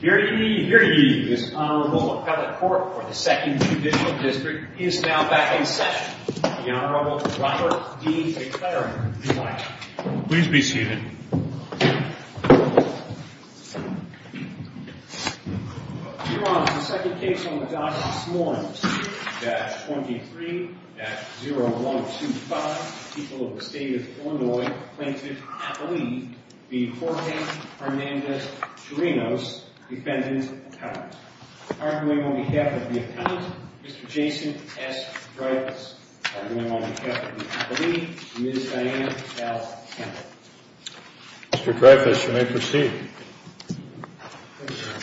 Here ye, here ye, this Honorable Appellate Court for the 2nd Judicial District is now back in session. The Honorable Robert D. McClaren, if you'd like. Please be seated. Your Honor, the second case on the docket this morning, C-23-0125, People of the State of Illinois Plaintiff Appellee v. Jorge Hernandez-Chirinos, Defendant Appellant. Arguing on behalf of the Appellant, Mr. Jason S. Dreyfuss. Arguing on behalf of the Appellee, Ms. Diana L. Campbell. Mr. Dreyfuss, you may proceed. Thank you, Your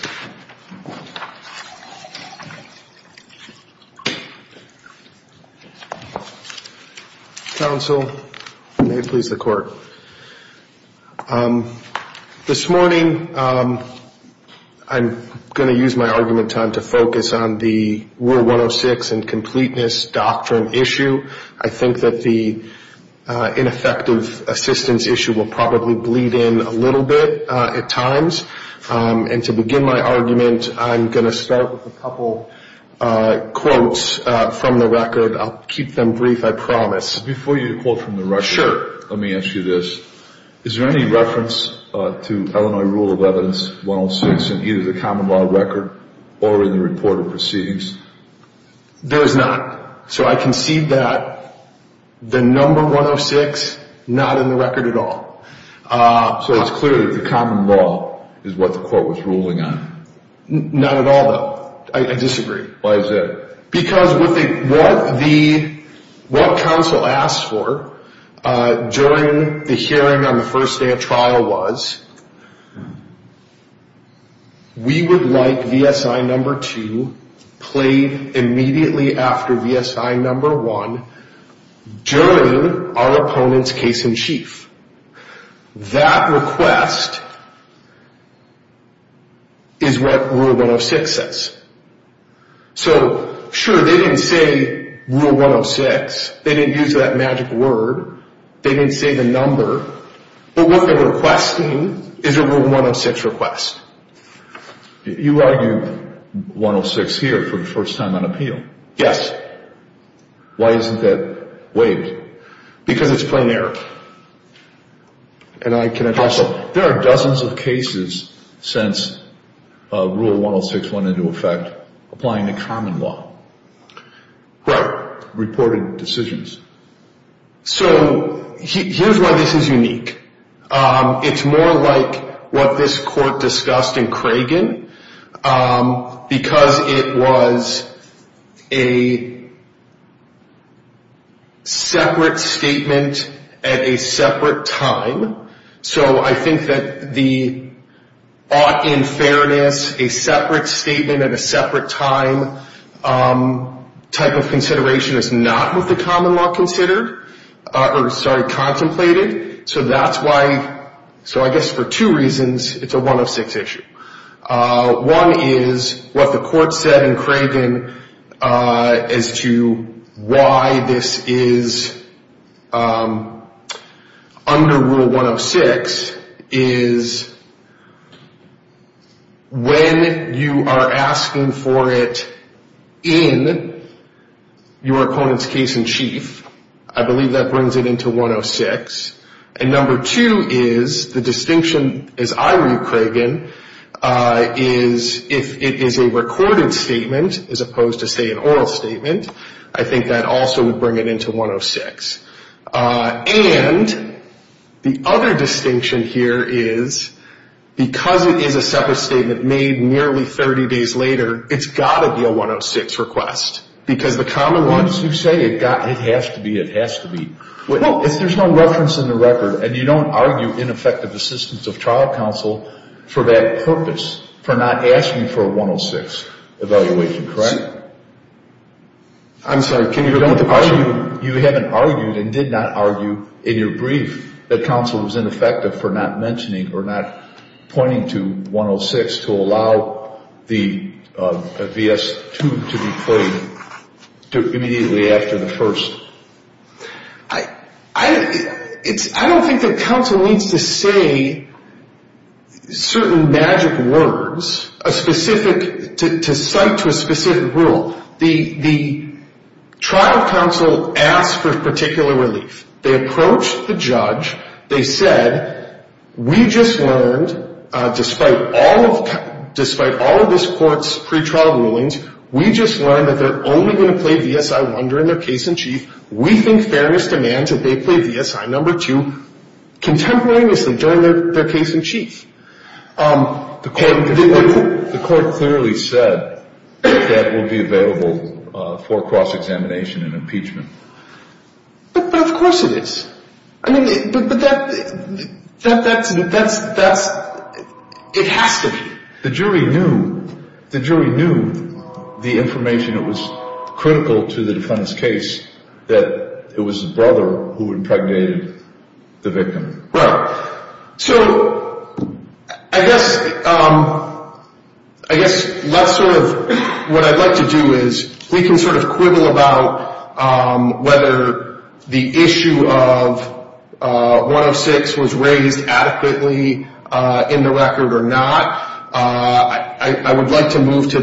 Honor. Counsel, may it please the Court. This morning I'm going to use my argument time to focus on the Rule 106 and Completeness Doctrine issue. I think that the ineffective assistance issue will probably bleed in a little bit at times. And to begin my argument, I'm going to start with a couple quotes from the record. I'll keep them brief, I promise. Before you quote from the record, let me ask you this. Is there any reference to Illinois Rule of Evidence 106 in either the common law record or in the report of proceedings? There is not. So I concede that the number 106, not in the record at all. So it's clear that the common law is what the Court was ruling on? Not at all, though. I disagree. Why is that? Because what counsel asked for during the hearing on the first day of trial was, we would like VSI number 2 played immediately after VSI number 1 during our opponent's case in chief. That request is what Rule 106 says. So, sure, they didn't say Rule 106. They didn't use that magic word. They didn't say the number. But what they're requesting is a Rule 106 request. You argued 106 here for the first time on appeal. Yes. Why isn't that waived? Because it's plain error. Counsel, there are dozens of cases since Rule 106 went into effect applying the common law. Right. Reported decisions. So here's why this is unique. It's more like what this Court discussed in Cragen because it was a separate statement at a separate time. So I think that the ought in fairness, a separate statement at a separate time type of consideration is not what the common law considered. Or, sorry, contemplated. So that's why, so I guess for two reasons it's a 106 issue. One is what the Court said in Cragen as to why this is under Rule 106 is when you are asking for it in your opponent's case in chief, I believe that brings it into 106. And number two is the distinction, as I read Cragen, is if it is a recorded statement as opposed to, say, an oral statement, I think that also would bring it into 106. And the other distinction here is because it is a separate statement made nearly 30 days later, it's got to be a 106 request because the common law... Once you say it has to be, it has to be. Well, if there's no reference in the record and you don't argue ineffective assistance of trial counsel for that purpose, for not asking for a 106 evaluation, correct? I'm sorry, can you repeat the question? You haven't argued and did not argue in your brief that counsel was ineffective for not mentioning or not pointing to 106 to allow the V.S. 2 to be claimed immediately after the first? I don't think that counsel needs to say certain magic words to cite to a specific rule. The trial counsel asked for particular relief. They approached the judge. They said, we just learned, despite all of this court's pretrial rulings, we just learned that they're only going to play V.S. 1 during their case in chief. We think fairness demands that they play V.S. 2 contemporaneously during their case in chief. The court clearly said that will be available for cross-examination and impeachment. But of course it is. I mean, but that's, it has to be. The jury knew, the jury knew the information that was critical to the defendant's case, that it was his brother who impregnated the victim. Well, so I guess, I guess that's sort of what I'd like to do is, we can sort of quibble about whether the issue of 106 was raised adequately in the record or not. I would like to move to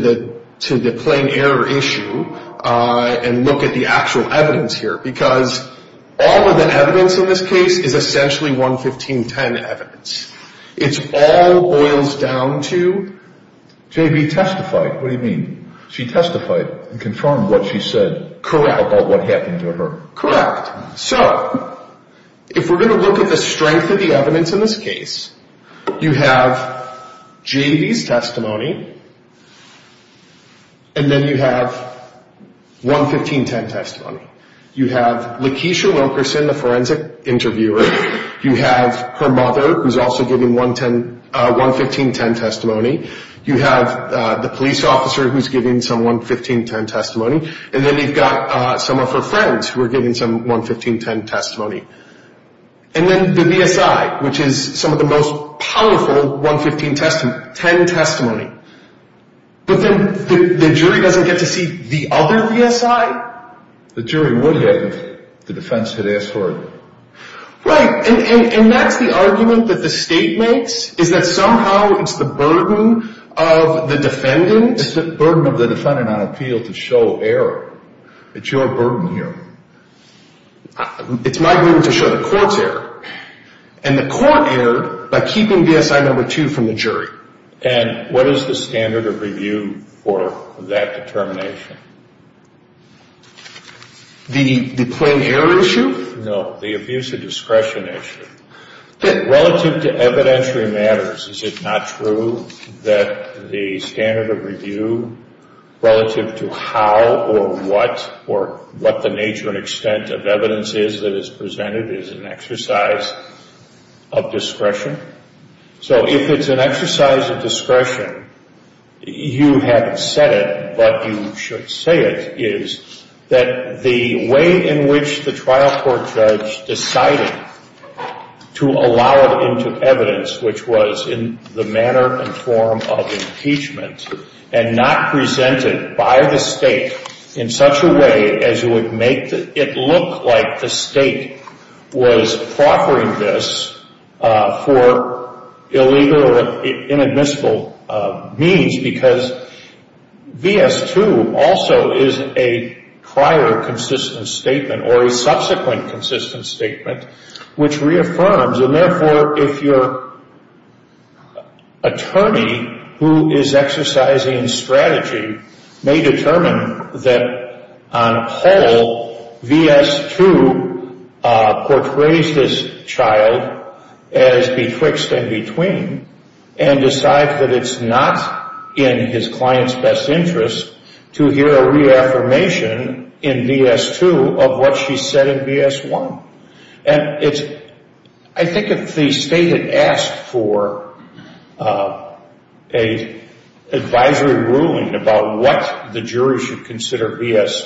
the plain error issue and look at the actual evidence here, because all of the evidence in this case is essentially 11510 evidence. It all boils down to... J.B. testified. What do you mean? She testified and confirmed what she said about what happened to her. Correct. So, if we're going to look at the strength of the evidence in this case, you have J.B.'s testimony, and then you have 11510 testimony. You have Lakeisha Wilkerson, the forensic interviewer. You have her mother, who's also giving 11510 testimony. You have the police officer who's giving some 11510 testimony. And then you've got some of her friends who are giving some 11510 testimony. And then the BSI, which is some of the most powerful 11510 testimony. But then the jury doesn't get to see the other BSI? The jury would get it if the defense had asked for it. Right. And that's the argument that the state makes, is that somehow it's the burden of the defendant... It's the burden of the defendant on appeal to show error. It's your burden here. It's my burden to show the court's error. And the court erred by keeping BSI number two from the jury. And what is the standard of review for that determination? The plain error issue? No, the abuse of discretion issue. Relative to evidentiary matters, is it not true that the standard of review relative to how or what or what the nature and extent of evidence is that is presented is an exercise of discretion? So if it's an exercise of discretion, you have said it, but you should say it, is that the way in which the trial court judge decided to allow it into evidence, which was in the manner and form of impeachment, and not present it by the state in such a way as it would make it look like the state was proffering this for illegal or inadmissible means, because V.S. 2 also is a prior consistent statement or a subsequent consistent statement which reaffirms. And therefore, if your attorney, who is exercising strategy, may determine that on whole V.S. 2 portrays this child as betwixt and between and decide that it's not in his client's best interest to hear a reaffirmation in V.S. 2 of what she said in V.S. 1. I think if the state had asked for an advisory ruling about what the jury should consider V.S.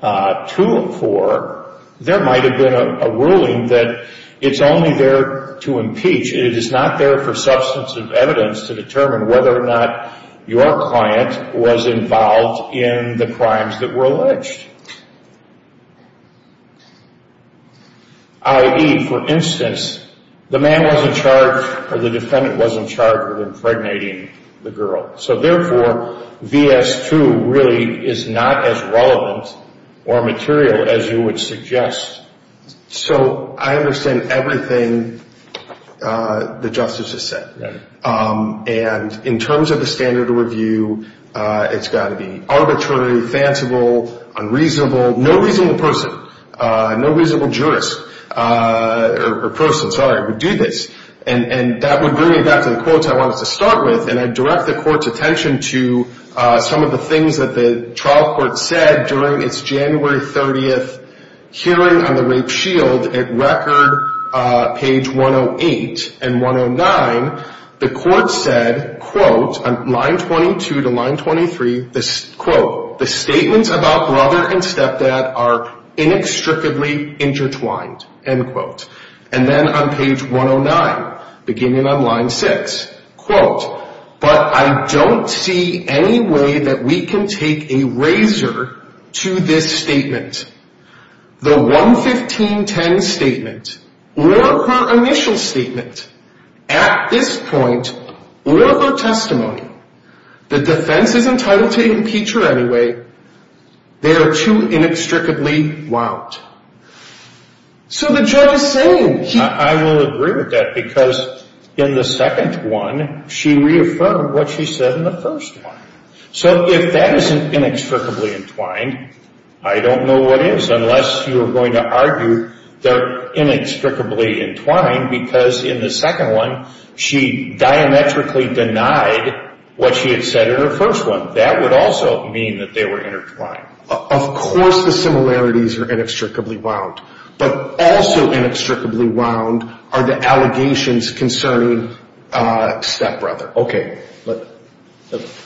2 for, there might have been a ruling that it's only there to impeach. It is not there for substance of evidence to determine whether or not your client was involved in the crimes that were alleged. I.e., for instance, the man wasn't charged or the defendant wasn't charged with impregnating the girl. So therefore, V.S. 2 really is not as relevant or material as you would suggest. So I understand everything the justice has said. Right. And in terms of the standard review, it's got to be arbitrary, fanciful, unreasonable. No reasonable person, no reasonable jurist or person, sorry, would do this. And that would bring me back to the quotes I wanted to start with. And I direct the court's attention to some of the things that the trial court said during its January 30th hearing on the rape shield at record page 108 and 109. The court said, quote, on line 22 to line 23, quote, the statements about brother and stepdad are inextricably intertwined, end quote. And then on page 109, beginning on line 6, quote, but I don't see any way that we can take a razor to this statement. The 115.10 statement or her initial statement at this point or her testimony, the defense is entitled to impeach her anyway. They are too inextricably wound. So the judge is saying he... reaffirmed what she said in the first one. So if that isn't inextricably entwined, I don't know what is unless you are going to argue they're inextricably entwined because in the second one, she diametrically denied what she had said in her first one. That would also mean that they were intertwined. Of course the similarities are inextricably wound. But also inextricably wound are the allegations concerning stepbrother. Okay.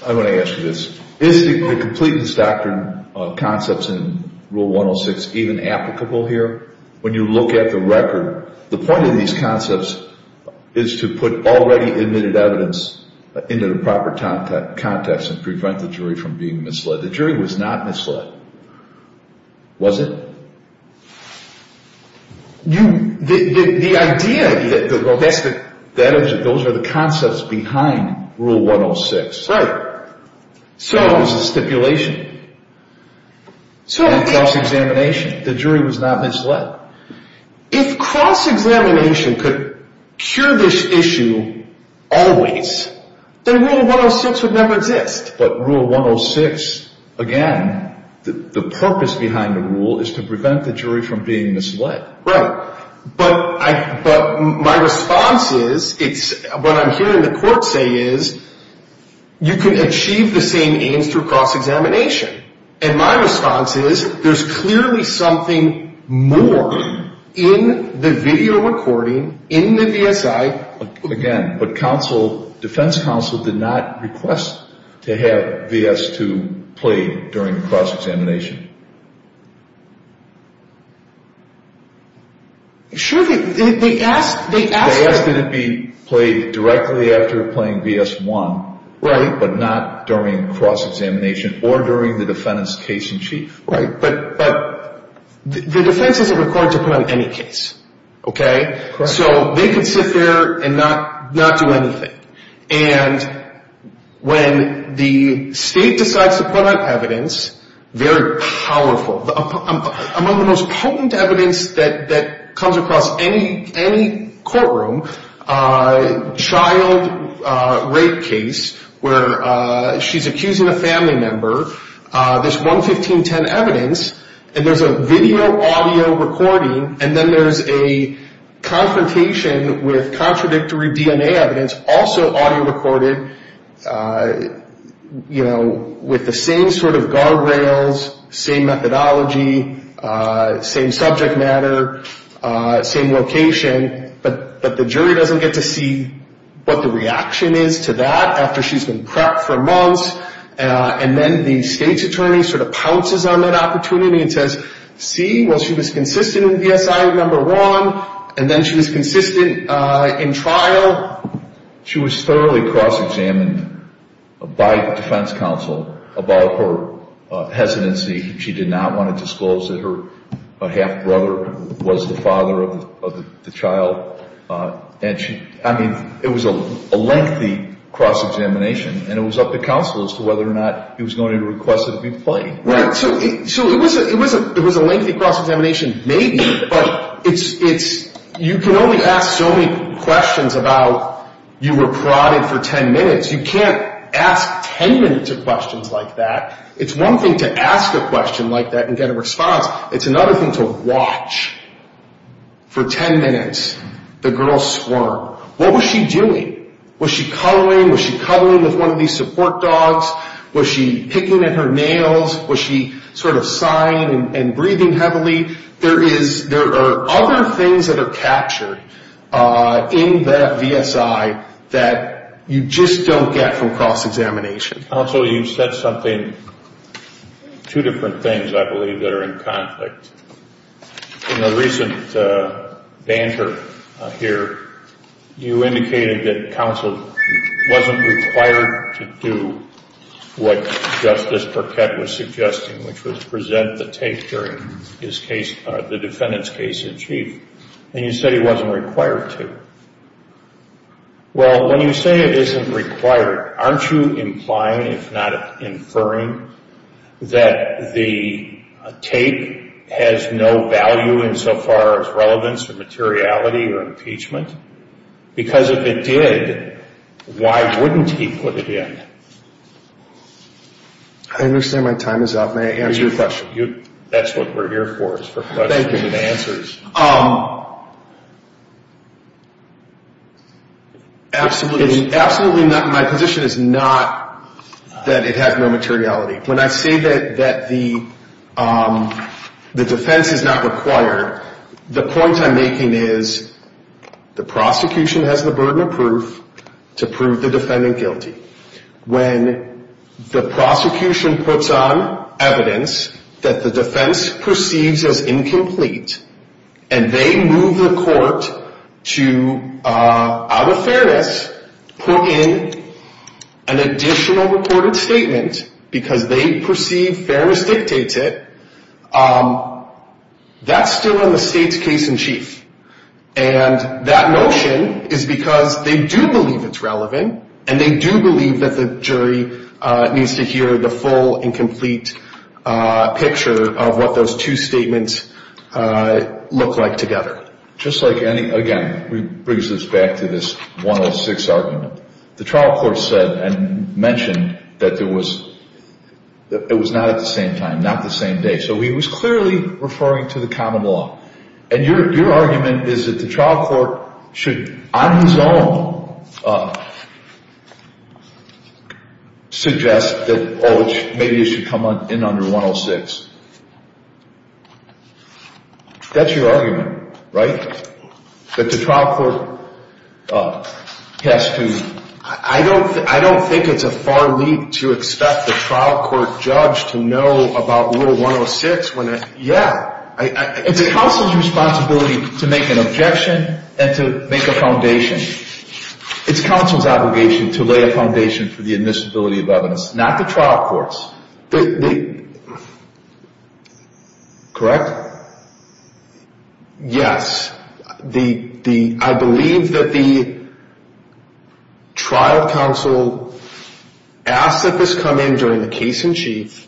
I want to ask you this. Is the completeness doctrine concepts in Rule 106 even applicable here? When you look at the record, the point of these concepts is to put already admitted evidence into the proper context and prevent the jury from being misled. The jury was not misled. Was it? The idea... Those are the concepts behind Rule 106. Right. So... It was a stipulation. So... And cross-examination. The jury was not misled. If cross-examination could cure this issue always, then Rule 106 would never exist. But Rule 106, again, the purpose behind the rule is to prevent the jury from being misled. Right. But my response is, what I'm hearing the court say is, you can achieve the same aims through cross-examination. And my response is, there's clearly something more in the video recording, in the VSI. Again, but defense counsel did not request to have V.S. 2 played during cross-examination. Sure, they asked... They asked that it be played directly after playing V.S. 1. Right. But not during cross-examination or during the defendant's case in chief. Right. But the defense isn't required to play on any case. Okay? Correct. And so they could sit there and not do anything. And when the state decides to put out evidence, very powerful, among the most potent evidence that comes across any courtroom, child rape case where she's accusing a family member, there's 11510 evidence, and there's a video audio recording, and then there's a confrontation with contradictory DNA evidence, also audio recorded, with the same sort of guardrails, same methodology, same subject matter, same location, but the jury doesn't get to see what the reaction is to that after she's been prepped for months. And then the state's attorney sort of pounces on that opportunity and says, see, well, she was consistent in V.S.I. number one, and then she was consistent in trial. She was thoroughly cross-examined by the defense counsel about her hesitancy. She did not want to disclose that her half-brother was the father of the child. I mean, it was a lengthy cross-examination, and it was up to counsel as to whether or not he was going to request it be played. So it was a lengthy cross-examination, maybe, but you can only ask so many questions about you were parodied for 10 minutes. You can't ask 10 minutes of questions like that. It's one thing to ask a question like that and get a response. It's another thing to watch. For 10 minutes, the girl swarmed. What was she doing? Was she cuddling? Was she cuddling with one of these support dogs? Was she picking at her nails? Was she sort of sighing and breathing heavily? There are other things that are captured in that V.S.I. that you just don't get from cross-examination. Counsel, you said something, two different things, I believe, that are in conflict. In the recent banter here, you indicated that counsel wasn't required to do what Justice Burkett was suggesting, which was present the tape during the defendant's case in chief, and you said he wasn't required to. Well, when you say it isn't required, aren't you implying, if not inferring, that the tape has no value insofar as relevance or materiality or impeachment? Because if it did, why wouldn't he put it in? I understand my time is up. May I answer your question? That's what we're here for, is for questions and answers. Absolutely, my position is not that it has no materiality. When I say that the defense is not required, the point I'm making is the prosecution has the burden of proof to prove the defendant guilty. When the prosecution puts on evidence that the defense perceives as incomplete, and they move the court to, out of fairness, put in an additional recorded statement because they perceive fairness dictates it, that's still in the state's case in chief. And that notion is because they do believe it's relevant, and they do believe that the jury needs to hear the full and complete picture of what those two statements look like together. Just like any, again, this brings us back to this 106 argument. The trial court said and mentioned that it was not at the same time, not the same day. So he was clearly referring to the common law. And your argument is that the trial court should, on his own, suggest that maybe it should come in under 106. That's your argument, right? That the trial court has to, I don't think it's a far leap to expect the trial court judge to know about Rule 106 when it, yeah. It's counsel's responsibility to make an objection and to make a foundation. It's counsel's obligation to lay a foundation for the admissibility of evidence, not the trial court's. Correct? Yes. I believe that the trial counsel asked that this come in during the case in chief.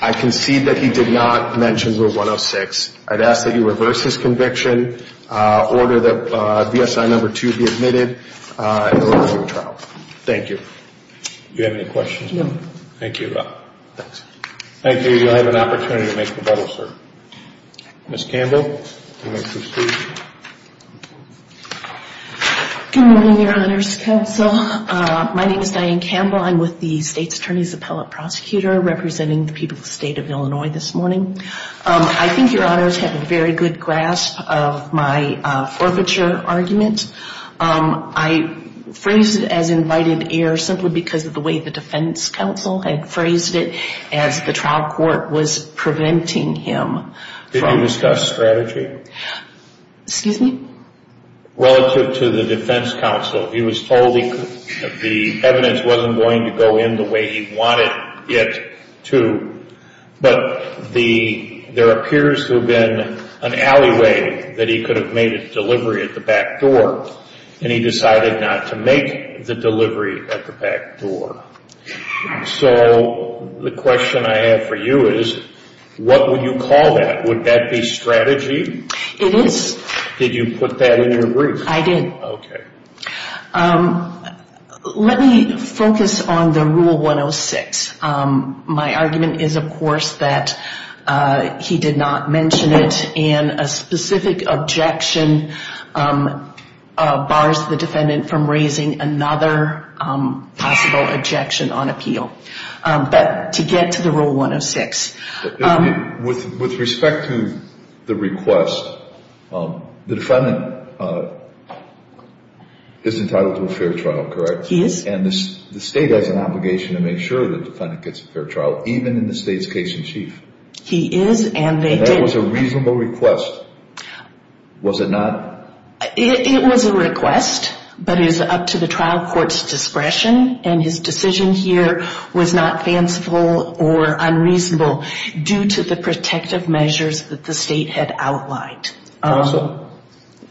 I concede that he did not mention Rule 106. I'd ask that you reverse his conviction, order that BSI number two be admitted, and order a new trial. Thank you. Do you have any questions? No. Thank you. Thanks. Thank you. You'll have an opportunity to make rebuttals, sir. Ms. Campbell, you may proceed. Good morning, Your Honors Counsel. My name is Diane Campbell. I'm with the State's Attorney's Appellate Prosecutor, representing the people of the state of Illinois this morning. I think Your Honors have a very good grasp of my forfeiture argument. I phrased it as invited error simply because of the way the defense counsel had phrased it as the trial court was preventing him. Did you discuss strategy? Excuse me? Relative to the defense counsel, he was told the evidence wasn't going to go in the way he wanted it to. But there appears to have been an alleyway that he could have made a delivery at the back door, and he decided not to make the delivery at the back door. So the question I have for you is, what would you call that? Would that be strategy? It is. Did you put that in your brief? I did. Okay. Let me focus on the Rule 106. My argument is, of course, that he did not mention it, and a specific objection bars the defendant from raising another possible objection on appeal. But to get to the Rule 106. With respect to the request, the defendant is entitled to a fair trial, correct? He is. And the state has an obligation to make sure that the defendant gets a fair trial, even in the state's case-in-chief. He is, and they did. And that was a reasonable request, was it not? It was a request, but it was up to the trial court's discretion, and his decision here was not fanciful or unreasonable due to the protective measures that the state had outlined. Counsel,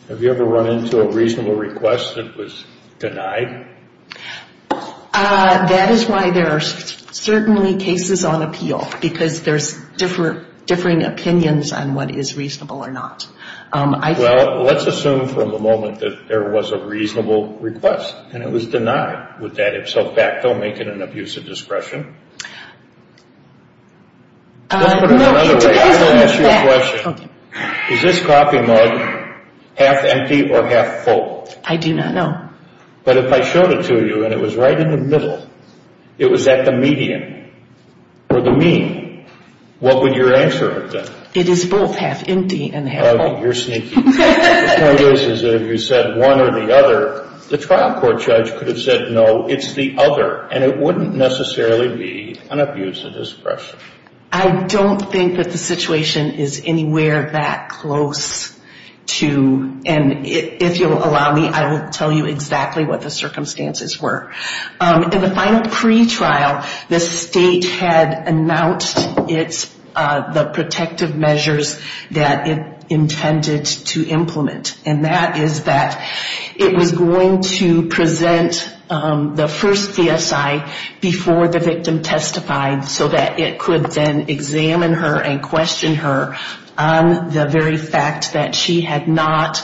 have you ever run into a reasonable request that was denied? That is why there are certainly cases on appeal, because there's differing opinions on what is reasonable or not. Well, let's assume from the moment that there was a reasonable request and it was denied. Would that in fact make it an abuse of discretion? Let's put it another way. I'm going to ask you a question. Is this coffee mug half empty or half full? I do not know. But if I showed it to you and it was right in the middle, it was at the median or the mean, what would your answer have been? It is both half empty and half full. Okay, you're sneaky. The point is that if you said one or the other, the trial court judge could have said, no, it's the other, and it wouldn't necessarily be an abuse of discretion. I don't think that the situation is anywhere that close to, and if you'll allow me, I will tell you exactly what the circumstances were. In the final pretrial, the state had announced the protective measures that it intended to implement, and that is that it was going to present the first VSI before the victim testified so that it could then examine her and question her on the very fact that she had not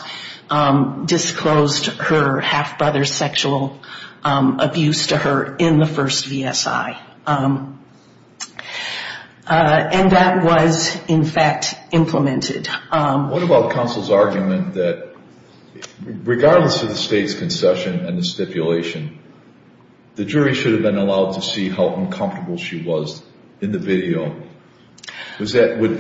disclosed her half-brother's sexual abuse to her in the first VSI. And that was, in fact, implemented. What about counsel's argument that regardless of the state's concession and the stipulation, the jury should have been allowed to see how uncomfortable she was in the video? Is that one of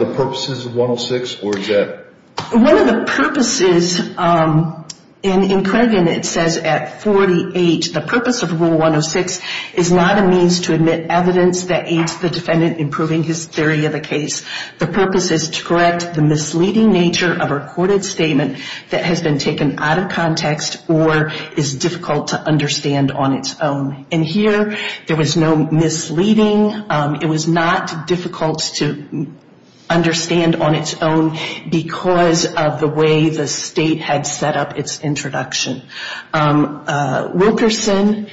the purposes of 106, or is that? One of the purposes, and in Corrigan it says at 48, the purpose of Rule 106 is not a means to admit evidence that aids the defendant in proving his theory of the case. The purpose is to correct the misleading nature of a recorded statement that has been taken out of context or is difficult to understand on its own. And here, there was no misleading. It was not difficult to understand on its own because of the way the state had set up its introduction. Wilkerson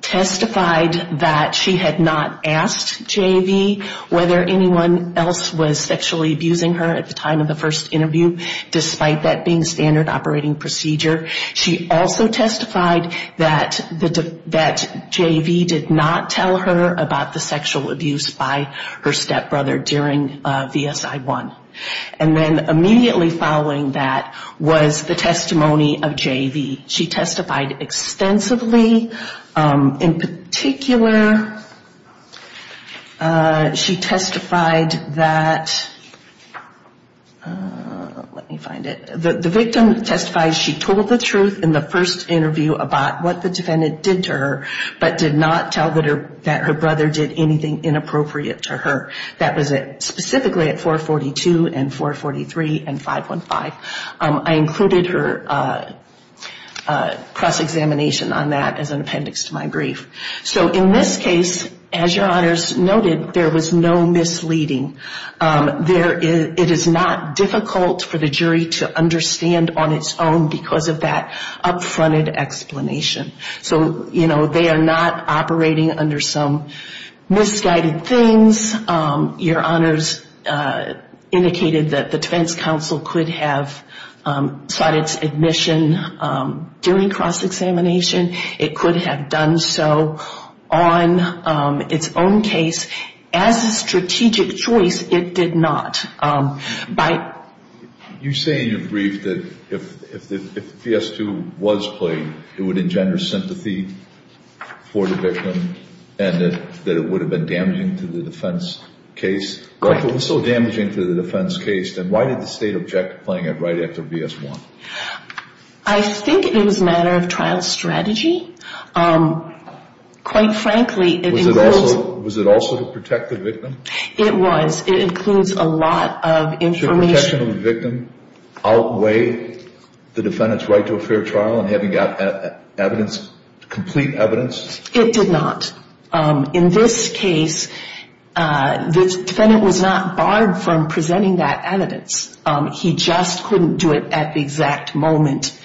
testified that she had not asked J.V. whether anyone else was sexually abusing her at the time of the first interview, despite that being standard operating procedure. She also testified that J.V. did not tell her about the sexual abuse by her stepbrother during VSI 1. And then immediately following that was the testimony of J.V. She testified extensively. In particular, she testified that, let me find it, the victim testified she told the truth in the first interview about what the defendant did to her but did not tell that her brother did anything inappropriate to her. That was specifically at 442 and 443 and 515. I included her press examination on that as an appendix to my brief. So in this case, as your honors noted, there was no misleading. It is not difficult for the jury to understand on its own because of that up-fronted explanation. So, you know, they are not operating under some misguided things. Your honors indicated that the defense counsel could have sought its admission during cross-examination. It could have done so on its own case. As a strategic choice, it did not. You say in your brief that if V.S. 2 was played, it would engender sympathy for the victim and that it would have been damaging to the defense case. If it was so damaging to the defense case, then why did the state object to playing it right after V.S. 1? I think it was a matter of trial strategy. Quite frankly, it includes... Was it also to protect the victim? It was. It includes a lot of information... Should protection of the victim outweigh the defendant's right to a fair trial and having complete evidence? It did not. In this case, the defendant was not barred from presenting that evidence. He just couldn't do it at the exact moment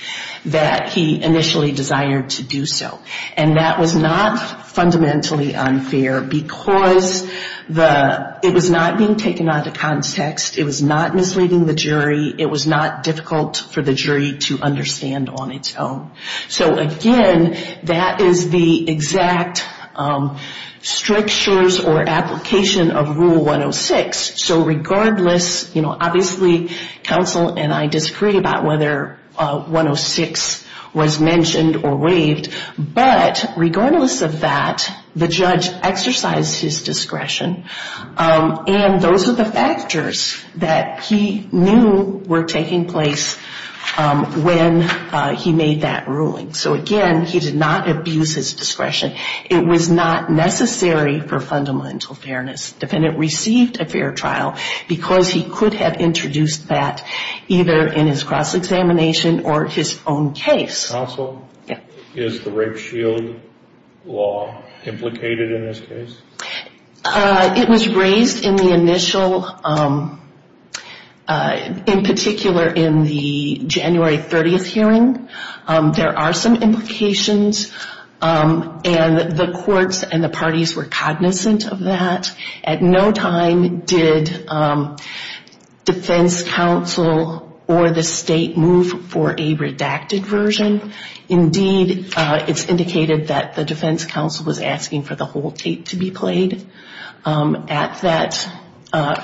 that he initially desired to do so. That was not fundamentally unfair because it was not being taken out of context. It was not misleading the jury. It was not difficult for the jury to understand on its own. Again, that is the exact strictures or application of Rule 106. Regardless, obviously counsel and I disagree about whether 106 was mentioned or waived, but regardless of that, the judge exercised his discretion. And those are the factors that he knew were taking place when he made that ruling. So again, he did not abuse his discretion. It was not necessary for fundamental fairness. The defendant received a fair trial because he could have introduced that either in his cross-examination or his own case. Counsel, is the rape shield law implicated in this case? It was raised in the initial, in particular in the January 30th hearing. There are some implications, and the courts and the parties were cognizant of that. At no time did defense counsel or the state move for a redacted version. Indeed, it's indicated that the defense counsel was asking for the whole tape to be played at that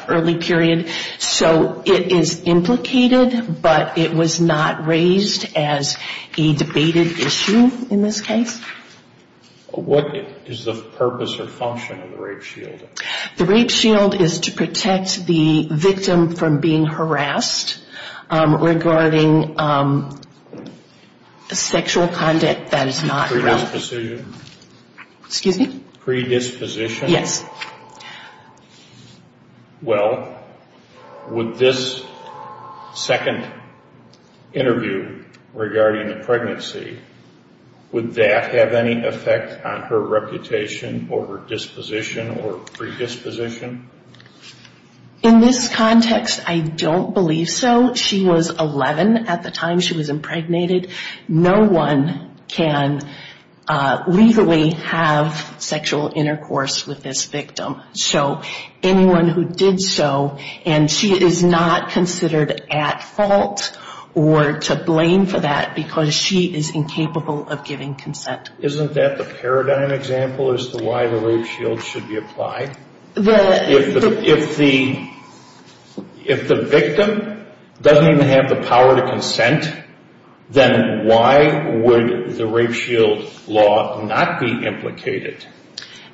early period. So it is implicated, but it was not raised as a debated issue in this case. What is the purpose or function of the rape shield? The rape shield is to protect the victim from being harassed regarding sexual conduct that is not relevant. Predisposition? Excuse me? Predisposition? Yes. Well, would this second interview regarding the pregnancy, would that have any effect on her reputation or her disposition or predisposition? In this context, I don't believe so. She was 11 at the time she was impregnated. No one can legally have sexual intercourse with this victim. So anyone who did so, and she is not considered at fault or to blame for that because she is incapable of giving consent. Isn't that the paradigm example as to why the rape shield should be applied? If the victim doesn't even have the power to consent, then why would the rape shield law not be implicated?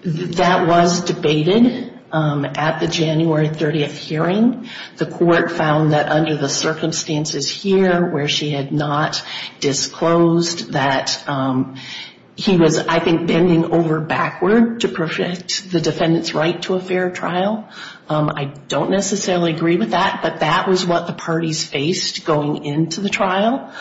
That was debated at the January 30th hearing. The court found that under the circumstances here where she had not disclosed that he was, I think, bending over backward to protect the defendant's right to a fair trial. I don't necessarily agree with that, but that was what the parties faced going into the trial.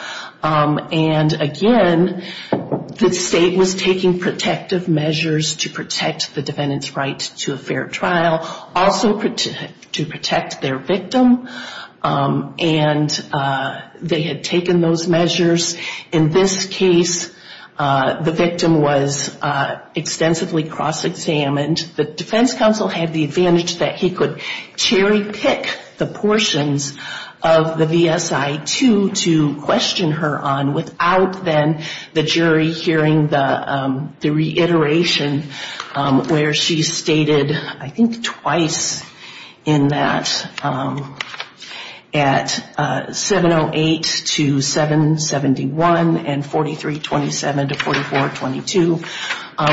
And again, the state was taking protective measures to protect the defendant's right to a fair trial. Also to protect their victim. And they had taken those measures. In this case, the victim was extensively cross-examined. The defense counsel had the advantage that he could cherry-pick the portions of the VSI 2 to question her on 4327 to 4422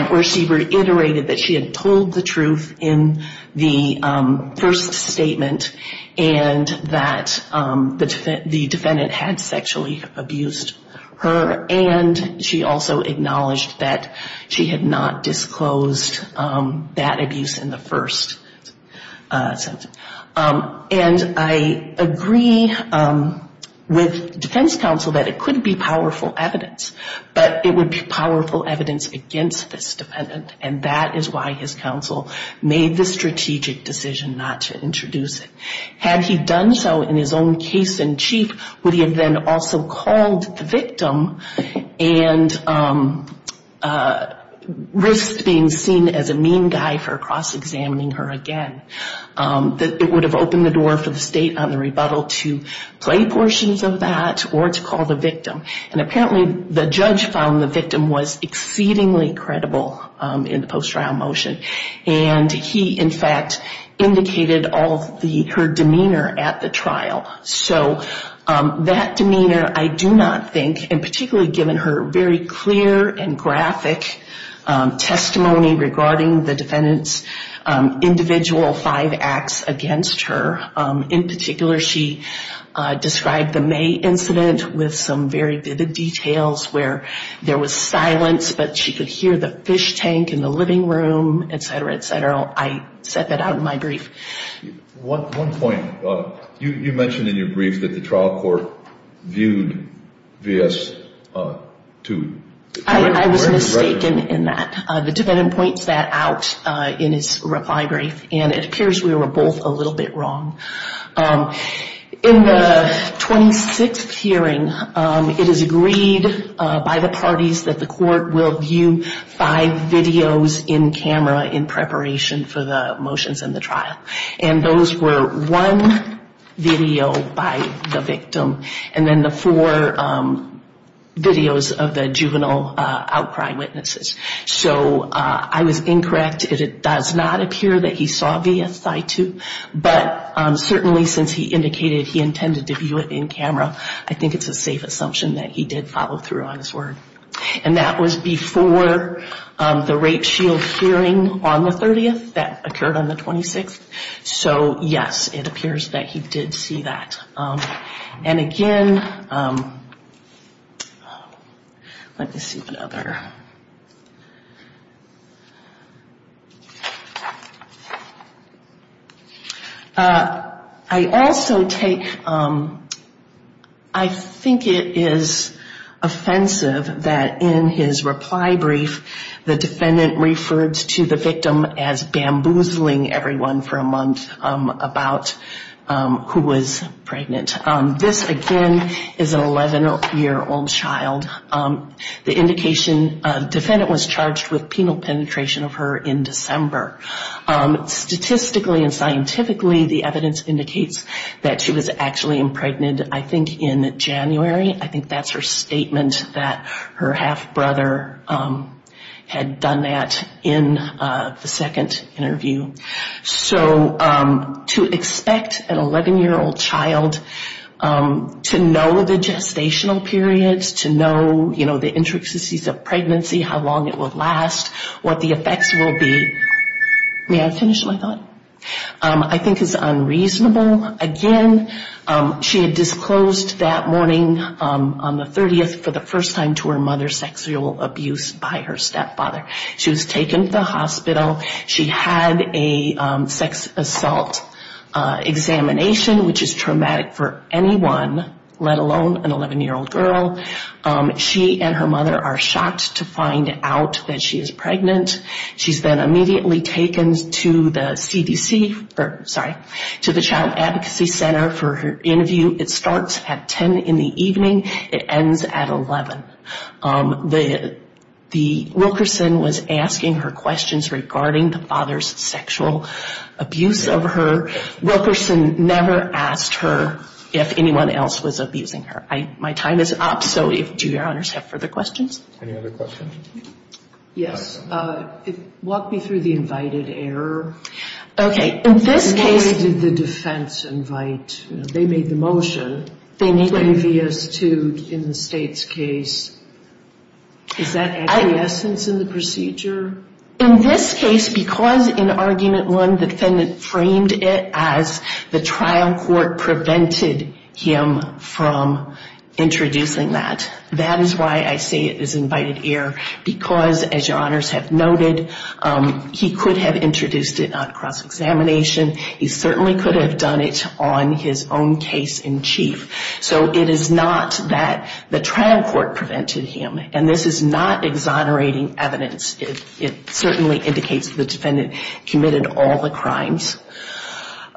where she reiterated that she had told the truth in the first statement and that the defendant had sexually abused her. And she also acknowledged that she had not disclosed that abuse in the first sentence. And I agree with defense counsel that it could be powerful evidence, but it would be powerful evidence against this defendant. And that is why his counsel made the strategic decision not to introduce it. Had he done so in his own case in chief, would he have then also called the victim and risked being seen as a mean guy for cross-examining her again. It would have opened the door for the state on the rebuttal to play portions of that or to call the victim. And apparently the judge found the victim was exceedingly credible in the post-trial motion. And he, in fact, indicated all of her demeanor at the trial. So that demeanor I do not think, and particularly given her very clear and graphic testimony regarding the defendant's individual five acts against her. In particular, she described the May incident with some very vivid details where there was silence, but she could hear the fish tank in the living room, et cetera, et cetera. I set that out in my brief. One point, you mentioned in your brief that the trial court viewed V.S. 2. I was mistaken in that. The defendant points that out in his reply brief, and it appears we were both a little bit wrong. In the 26th hearing, it is agreed by the parties that the court will view five videos in camera in preparation for the motions in the trial. And those were one video by the victim, and then the four videos of the juvenile outcry witnesses. So I was incorrect. It does not appear that he saw V.S. 2. But certainly since he indicated he intended to view it in camera, I think it's a safe assumption that he did follow through on his word. And that was before the rape shield hearing on the 30th that occurred on the 26th. So, yes, it appears that he did see that. And again, let me see what other... I also take, I think it is offensive that in his reply brief, the defendant refers to the victim as bamboozling everyone for a month. About who was pregnant. This, again, is an 11-year-old child. The defendant was charged with penal penetration of her in December. Statistically and scientifically, the evidence indicates that she was actually impregnated, I think, in January. I think that's her statement that her half-brother had done that in the second interview. So to expect an 11-year-old child to know the gestational periods, to know, you know, the intricacies of pregnancy, how long it would last, what the effects will be, may I finish my thought? I think it's unreasonable. Again, she had disclosed that morning on the 30th for the first time to her mother sexual abuse by her stepfather. She was taken to the hospital. She had a sex assault examination, which is traumatic for anyone, let alone an 11-year-old girl. She and her mother are shocked to find out that she is pregnant. She's then immediately taken to the CDC, sorry, to the Child Advocacy Center for her interview. It starts at 10 in the evening. It ends at 11. Wilkerson was asking her questions regarding the father's sexual abuse of her. Wilkerson never asked her if anyone else was abusing her. My time is up, so do your honors have further questions? Any other questions? Yes. Walk me through the invited error. Okay. In this case... Where did the defense invite? They made the motion. They made the motion. They made the motion. In this case, because in argument one, the defendant framed it as the trial court prevented him from introducing that. That is why I say it is invited error, because, as your honors have noted, he could have introduced it on cross-examination. He certainly could have done it on his own case in chief. So it is not that the trial court prevented him, and this is not exonerating evidence. It certainly indicates the defendant committed all the crimes.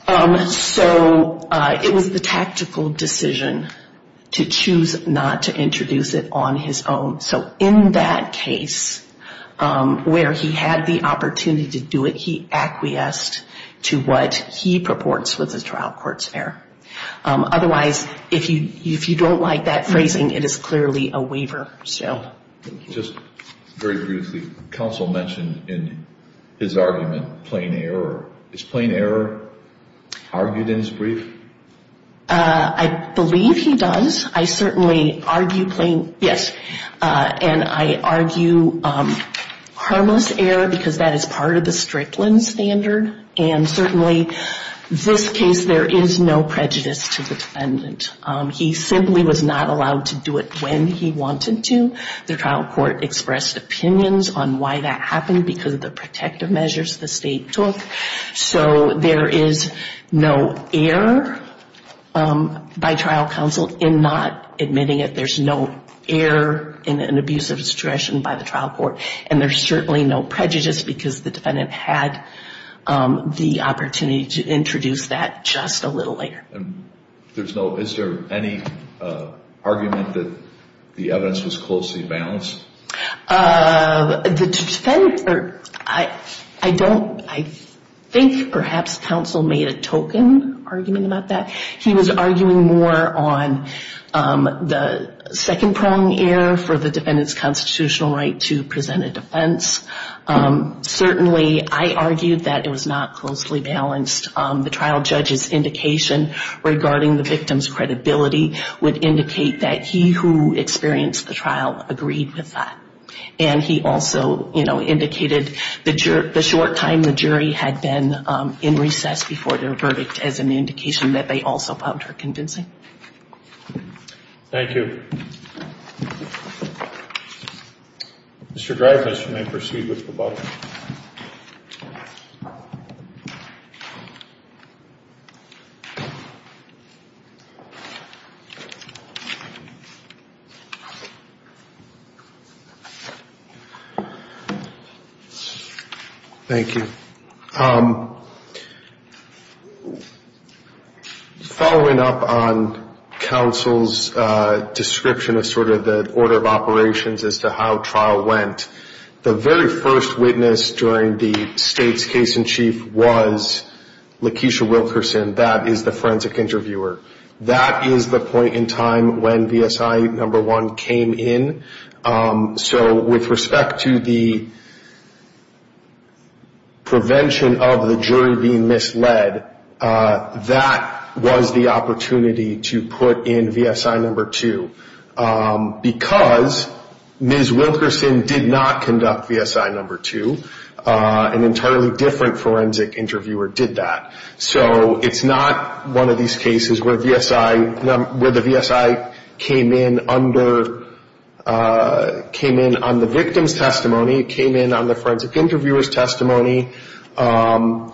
So it was the tactical decision to choose not to introduce it on his own. So in that case, where he had the opportunity to do it, he acquiesced to what he purports was a trial court's error. Otherwise, if you don't like that phrasing, it is clearly a waiver. Just very briefly, counsel mentioned in his argument, plain error. Is plain error argued in his brief? I believe he does. I certainly argue plain, yes. And I argue harmless error, because that is part of the Strickland standard. And certainly this case, there is no prejudice to the defendant. He simply was not allowed to do it when he wanted to. The trial court expressed opinions on why that happened, because of the protective measures the state took. So there is no error by trial counsel in not admitting it. There's no error in an abuse of discretion by the trial court. And there's certainly no prejudice, because the defendant had the opportunity to introduce that just a little later. Is there any argument that the evidence was closely balanced? I think perhaps counsel made a token argument about that. He was arguing more on the second prong error for the defendant's constitutional right to present a defense. Certainly I argued that it was not closely balanced. The trial judge's indication regarding the victim's credibility would indicate that he who experienced the trial agreed with that. And he also indicated the short time the jury had been in recess before their verdict as an indication that they also found her convincing. Thank you. Mr. Dreyfuss, you may proceed with the buck. Thank you. Following up on counsel's description of sort of the order of operations as to how trial went, the very first witness during the state's case in chief was Lakeisha Wilkerson. That is the forensic interviewer. That is the point in time when VSI No. 1 came in. So with respect to the prevention of the jury being misled, that was the opportunity to put in VSI No. 2. Because Ms. Wilkerson did not conduct VSI No. 2. An entirely different forensic interviewer did that. So it's not one of these cases where VSI, where the VSI came in under, came in on the victim's testimony, came in on the forensic interviewer's testimony.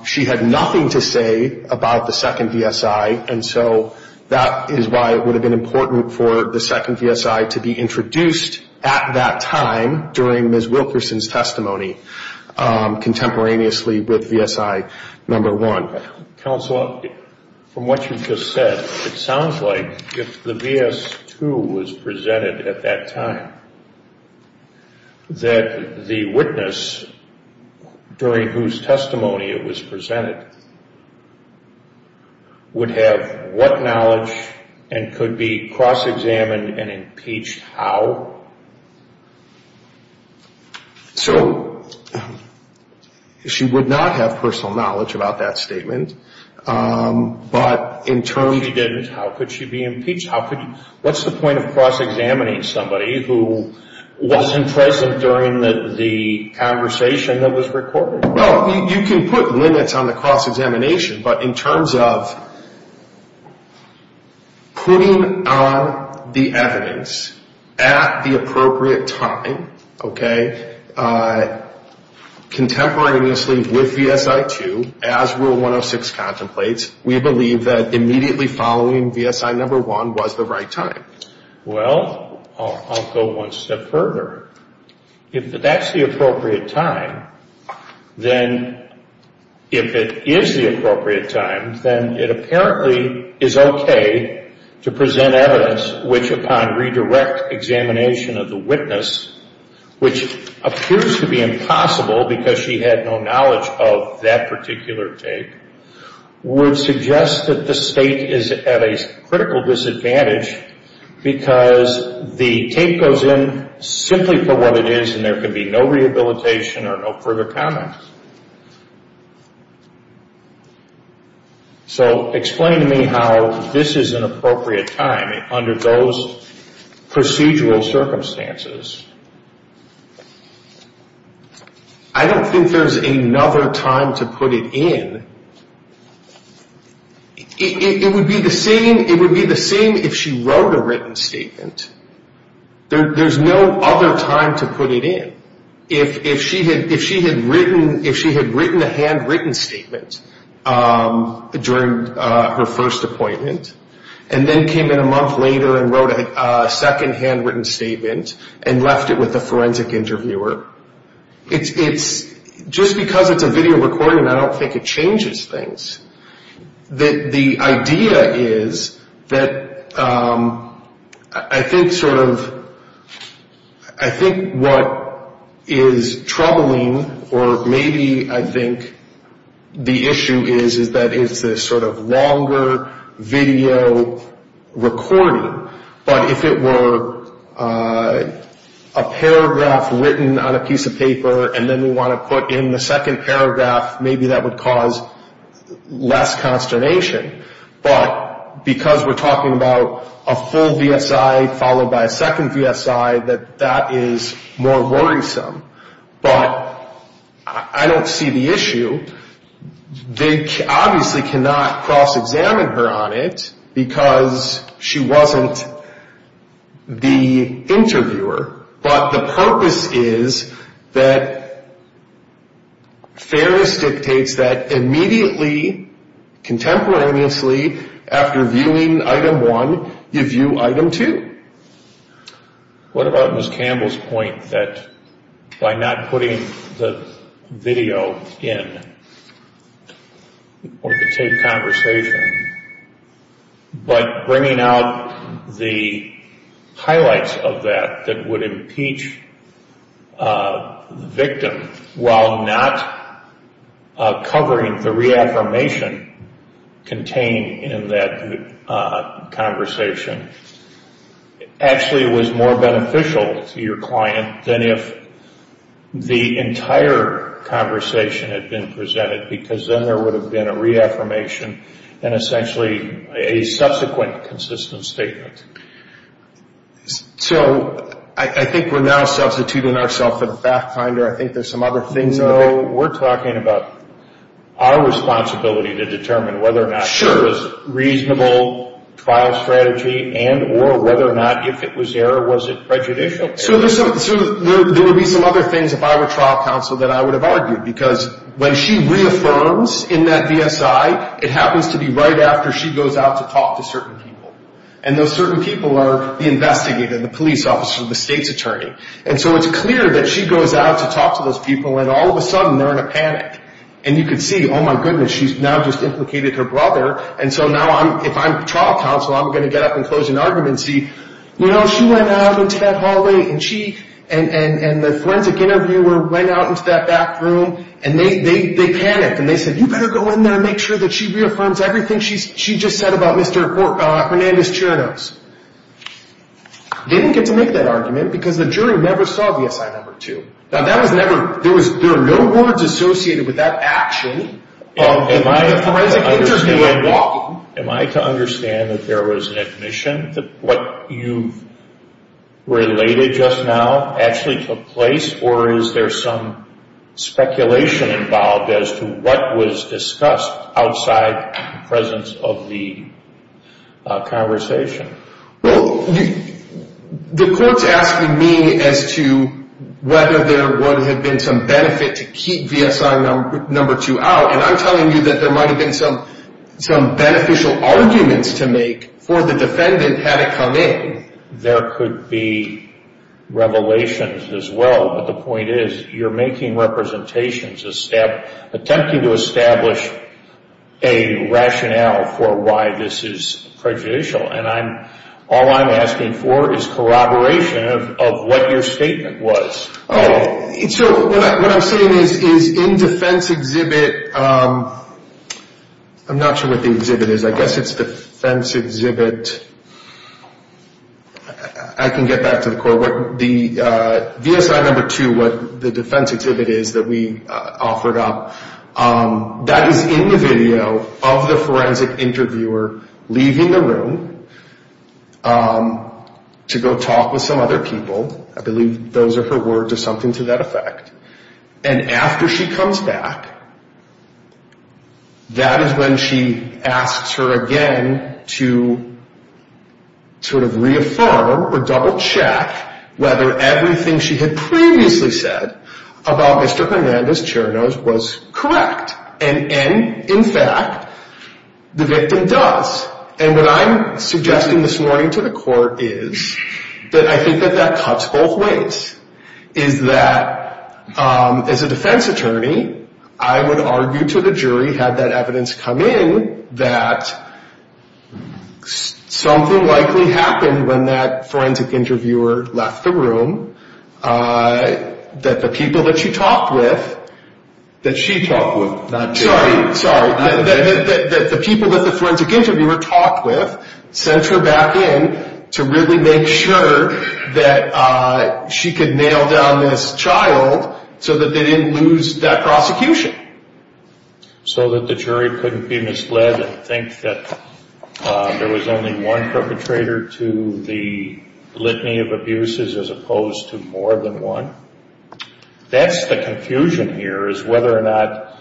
She had nothing to say about the second VSI. And so that is why it would have been important for the second VSI to be introduced at that time during Ms. Wilkerson's testimony. Contemporaneously with VSI No. 1. Counsel, from what you just said, it sounds like if the V.S. 2 was presented at that time, that the witness during whose testimony it was presented would have what knowledge and could be cross-examined and impeached how? So she would not have personal knowledge about that statement. But in terms... If she didn't, how could she be impeached? What's the point of cross-examining somebody who wasn't present during the conversation that was recorded? Well, you can put limits on the cross-examination. But in terms of putting on the evidence at the appropriate time, okay, contemporaneously with VSI 2, as Rule 106 contemplates, we believe that immediately following VSI No. 1 was the right time. Well, I'll go one step further. If that's the appropriate time, then if it is the appropriate time, then it apparently is okay to present evidence which upon redirect examination of the witness, which appears to be impossible because she had no knowledge of that particular tape, would suggest that the State is at a critical disadvantage because the tape goes in simply for what it is and there could be no rehabilitation or no further comment. So explain to me how this is an appropriate time under those procedural circumstances. I don't think there's another time to put it in. It would be the same if she wrote a written statement. There's no other time to put it in. If she had written a handwritten statement during her first appointment and then came in a month later and wrote a second handwritten statement and left it with a forensic interviewer, just because it's a video recording, I don't think it changes things. The idea is that I think sort of, I think what is troubling, or maybe I think the issue is, is that it's a sort of longer video recording, but if it were a paragraph written on a piece of paper and then we want to put in the second paragraph, maybe that would cause less consternation. But because we're talking about a full VSI followed by a second VSI, that that is more worrisome. But I don't see the issue. They obviously cannot cross-examine her on it because she wasn't the interviewer. But the purpose is that fairness dictates that immediately, contemporaneously, after viewing item one, you view item two. What about Ms. Campbell's point that by not putting the video in, or the taped conversation, but bringing out the highlights of that, that would impeach the victim while not covering the reaffirmation contained in that conversation? Actually, it was more beneficial to your client than if the entire conversation had been presented, because then there would have been a reaffirmation and essentially a subsequent consistent statement. So I think we're now substituting ourselves for the fact finder. I think there's some other things. No, we're talking about our responsibility to determine whether or not it was reasonable trial strategy and or whether or not if it was error, was it prejudicial? So there would be some other things if I were trial counsel that I would have argued, because when she reaffirms in that VSI, it happens to be right after she goes out to talk to certain people. And those certain people are the investigator, the police officer, the state's attorney. And so it's clear that she goes out to talk to those people and all of a sudden they're in a panic. And you can see, oh, my goodness, she's now just implicated her brother. And so now if I'm trial counsel, I'm going to get up and close an argument and say, you know, she went out into that hallway and the forensic interviewer went out into that back room and they panicked. And they said, you better go in there and make sure that she reaffirms everything she just said about Mr. Hernandez-Chernos. They didn't get to make that argument because the jury never saw VSI number two. Now, that was never, there were no words associated with that action in the forensic interview. Am I to understand that there was an admission that what you've related just now actually took place? Or is there some speculation involved as to what was discussed outside the presence of the conversation? Well, the court's asking me as to whether there would have been some benefit to keep VSI number two out. And I'm telling you that there might have been some beneficial arguments to make for the defendant had it come in. There could be revelations as well, but the point is you're making representations, attempting to establish a rationale for why this is prejudicial. And all I'm asking for is corroboration of what your statement was. So what I'm saying is in defense exhibit, I'm not sure what the exhibit is. I guess it's defense exhibit, I can get back to the court. The VSI number two, what the defense exhibit is that we offered up, that is in the video of the forensic interviewer leaving the room to go talk with some other people. I believe those are her words or something to that effect. And after she comes back, that is when she asks her again to sort of reaffirm or double check whether everything she had previously said about Mr. Hernandez-Chernoz was correct. And in fact, the victim does. And what I'm suggesting this morning to the court is that I think that that cuts both ways. Is that as a defense attorney, I would argue to the jury had that evidence come in that something likely happened when that forensic interviewer left the room. That the people that she talked with. Sorry, that the people that the forensic interviewer talked with sent her back in to really make sure that she could nail down this child so that they didn't lose that prosecution. So that the jury couldn't be misled and think that there was only one perpetrator to the litany of abuses as opposed to more than one. That's the confusion here is whether or not,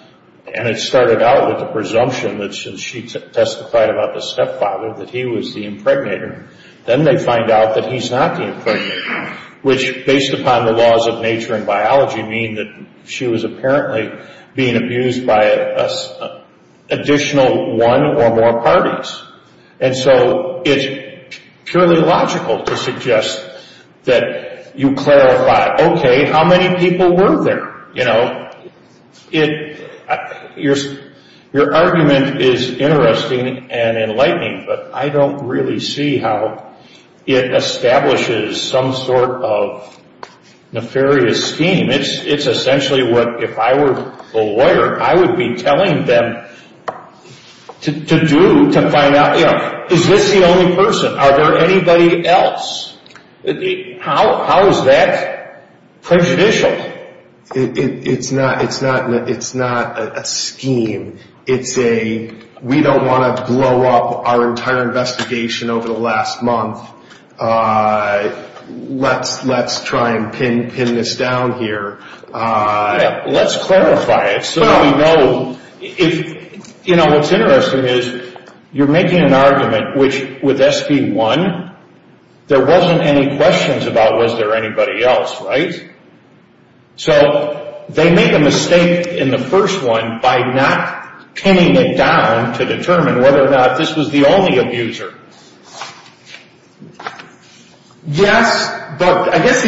and it started out with the presumption that since she testified about the stepfather, that he was the impregnator, then they find out that he's not the impregnator. Which based upon the laws of nature and biology mean that she was apparently being abused by an additional one or more parties. And so it's purely logical to suggest that you clarify, okay, how many people were there? Your argument is interesting and enlightening, but I don't really see how it establishes some sort of nefarious scheme. I mean, it's essentially what if I were a lawyer, I would be telling them to do, to find out, is this the only person? Are there anybody else? How is that prejudicial? It's not a scheme. We don't want to blow up our entire investigation over the last month. Let's try and pin this down here. Let's clarify it so we know. What's interesting is you're making an argument which with SB1 there wasn't any questions about was there anybody else, right? So they make a mistake in the first one by not pinning it down to determine whether or not this was the only abuser. Yes, but I guess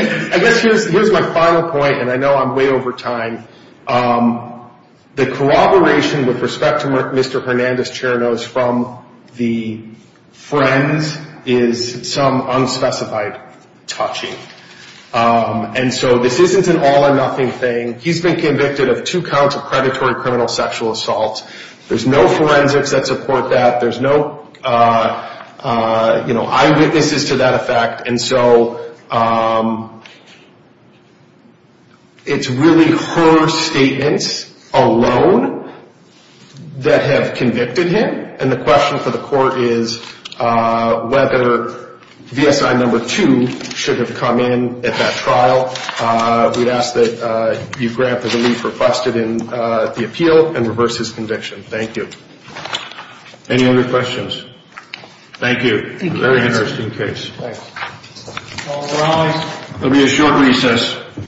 here's my final point, and I know I'm way over time. The corroboration with respect to Mr. Hernandez-Chernos from the friends is some unspecified touching, and so this isn't an all or nothing thing. He's been convicted of two counts of predatory criminal sexual assault. There's no forensics that support that. There's no eyewitnesses to that effect, and so it's really her statements alone that have convicted him, and the question for the court is whether VSI No. 2 should have come in at that trial. We'd ask that you grant the relief requested in the appeal and reverse his conviction. Thank you. Any other questions? Thank you. Thank you.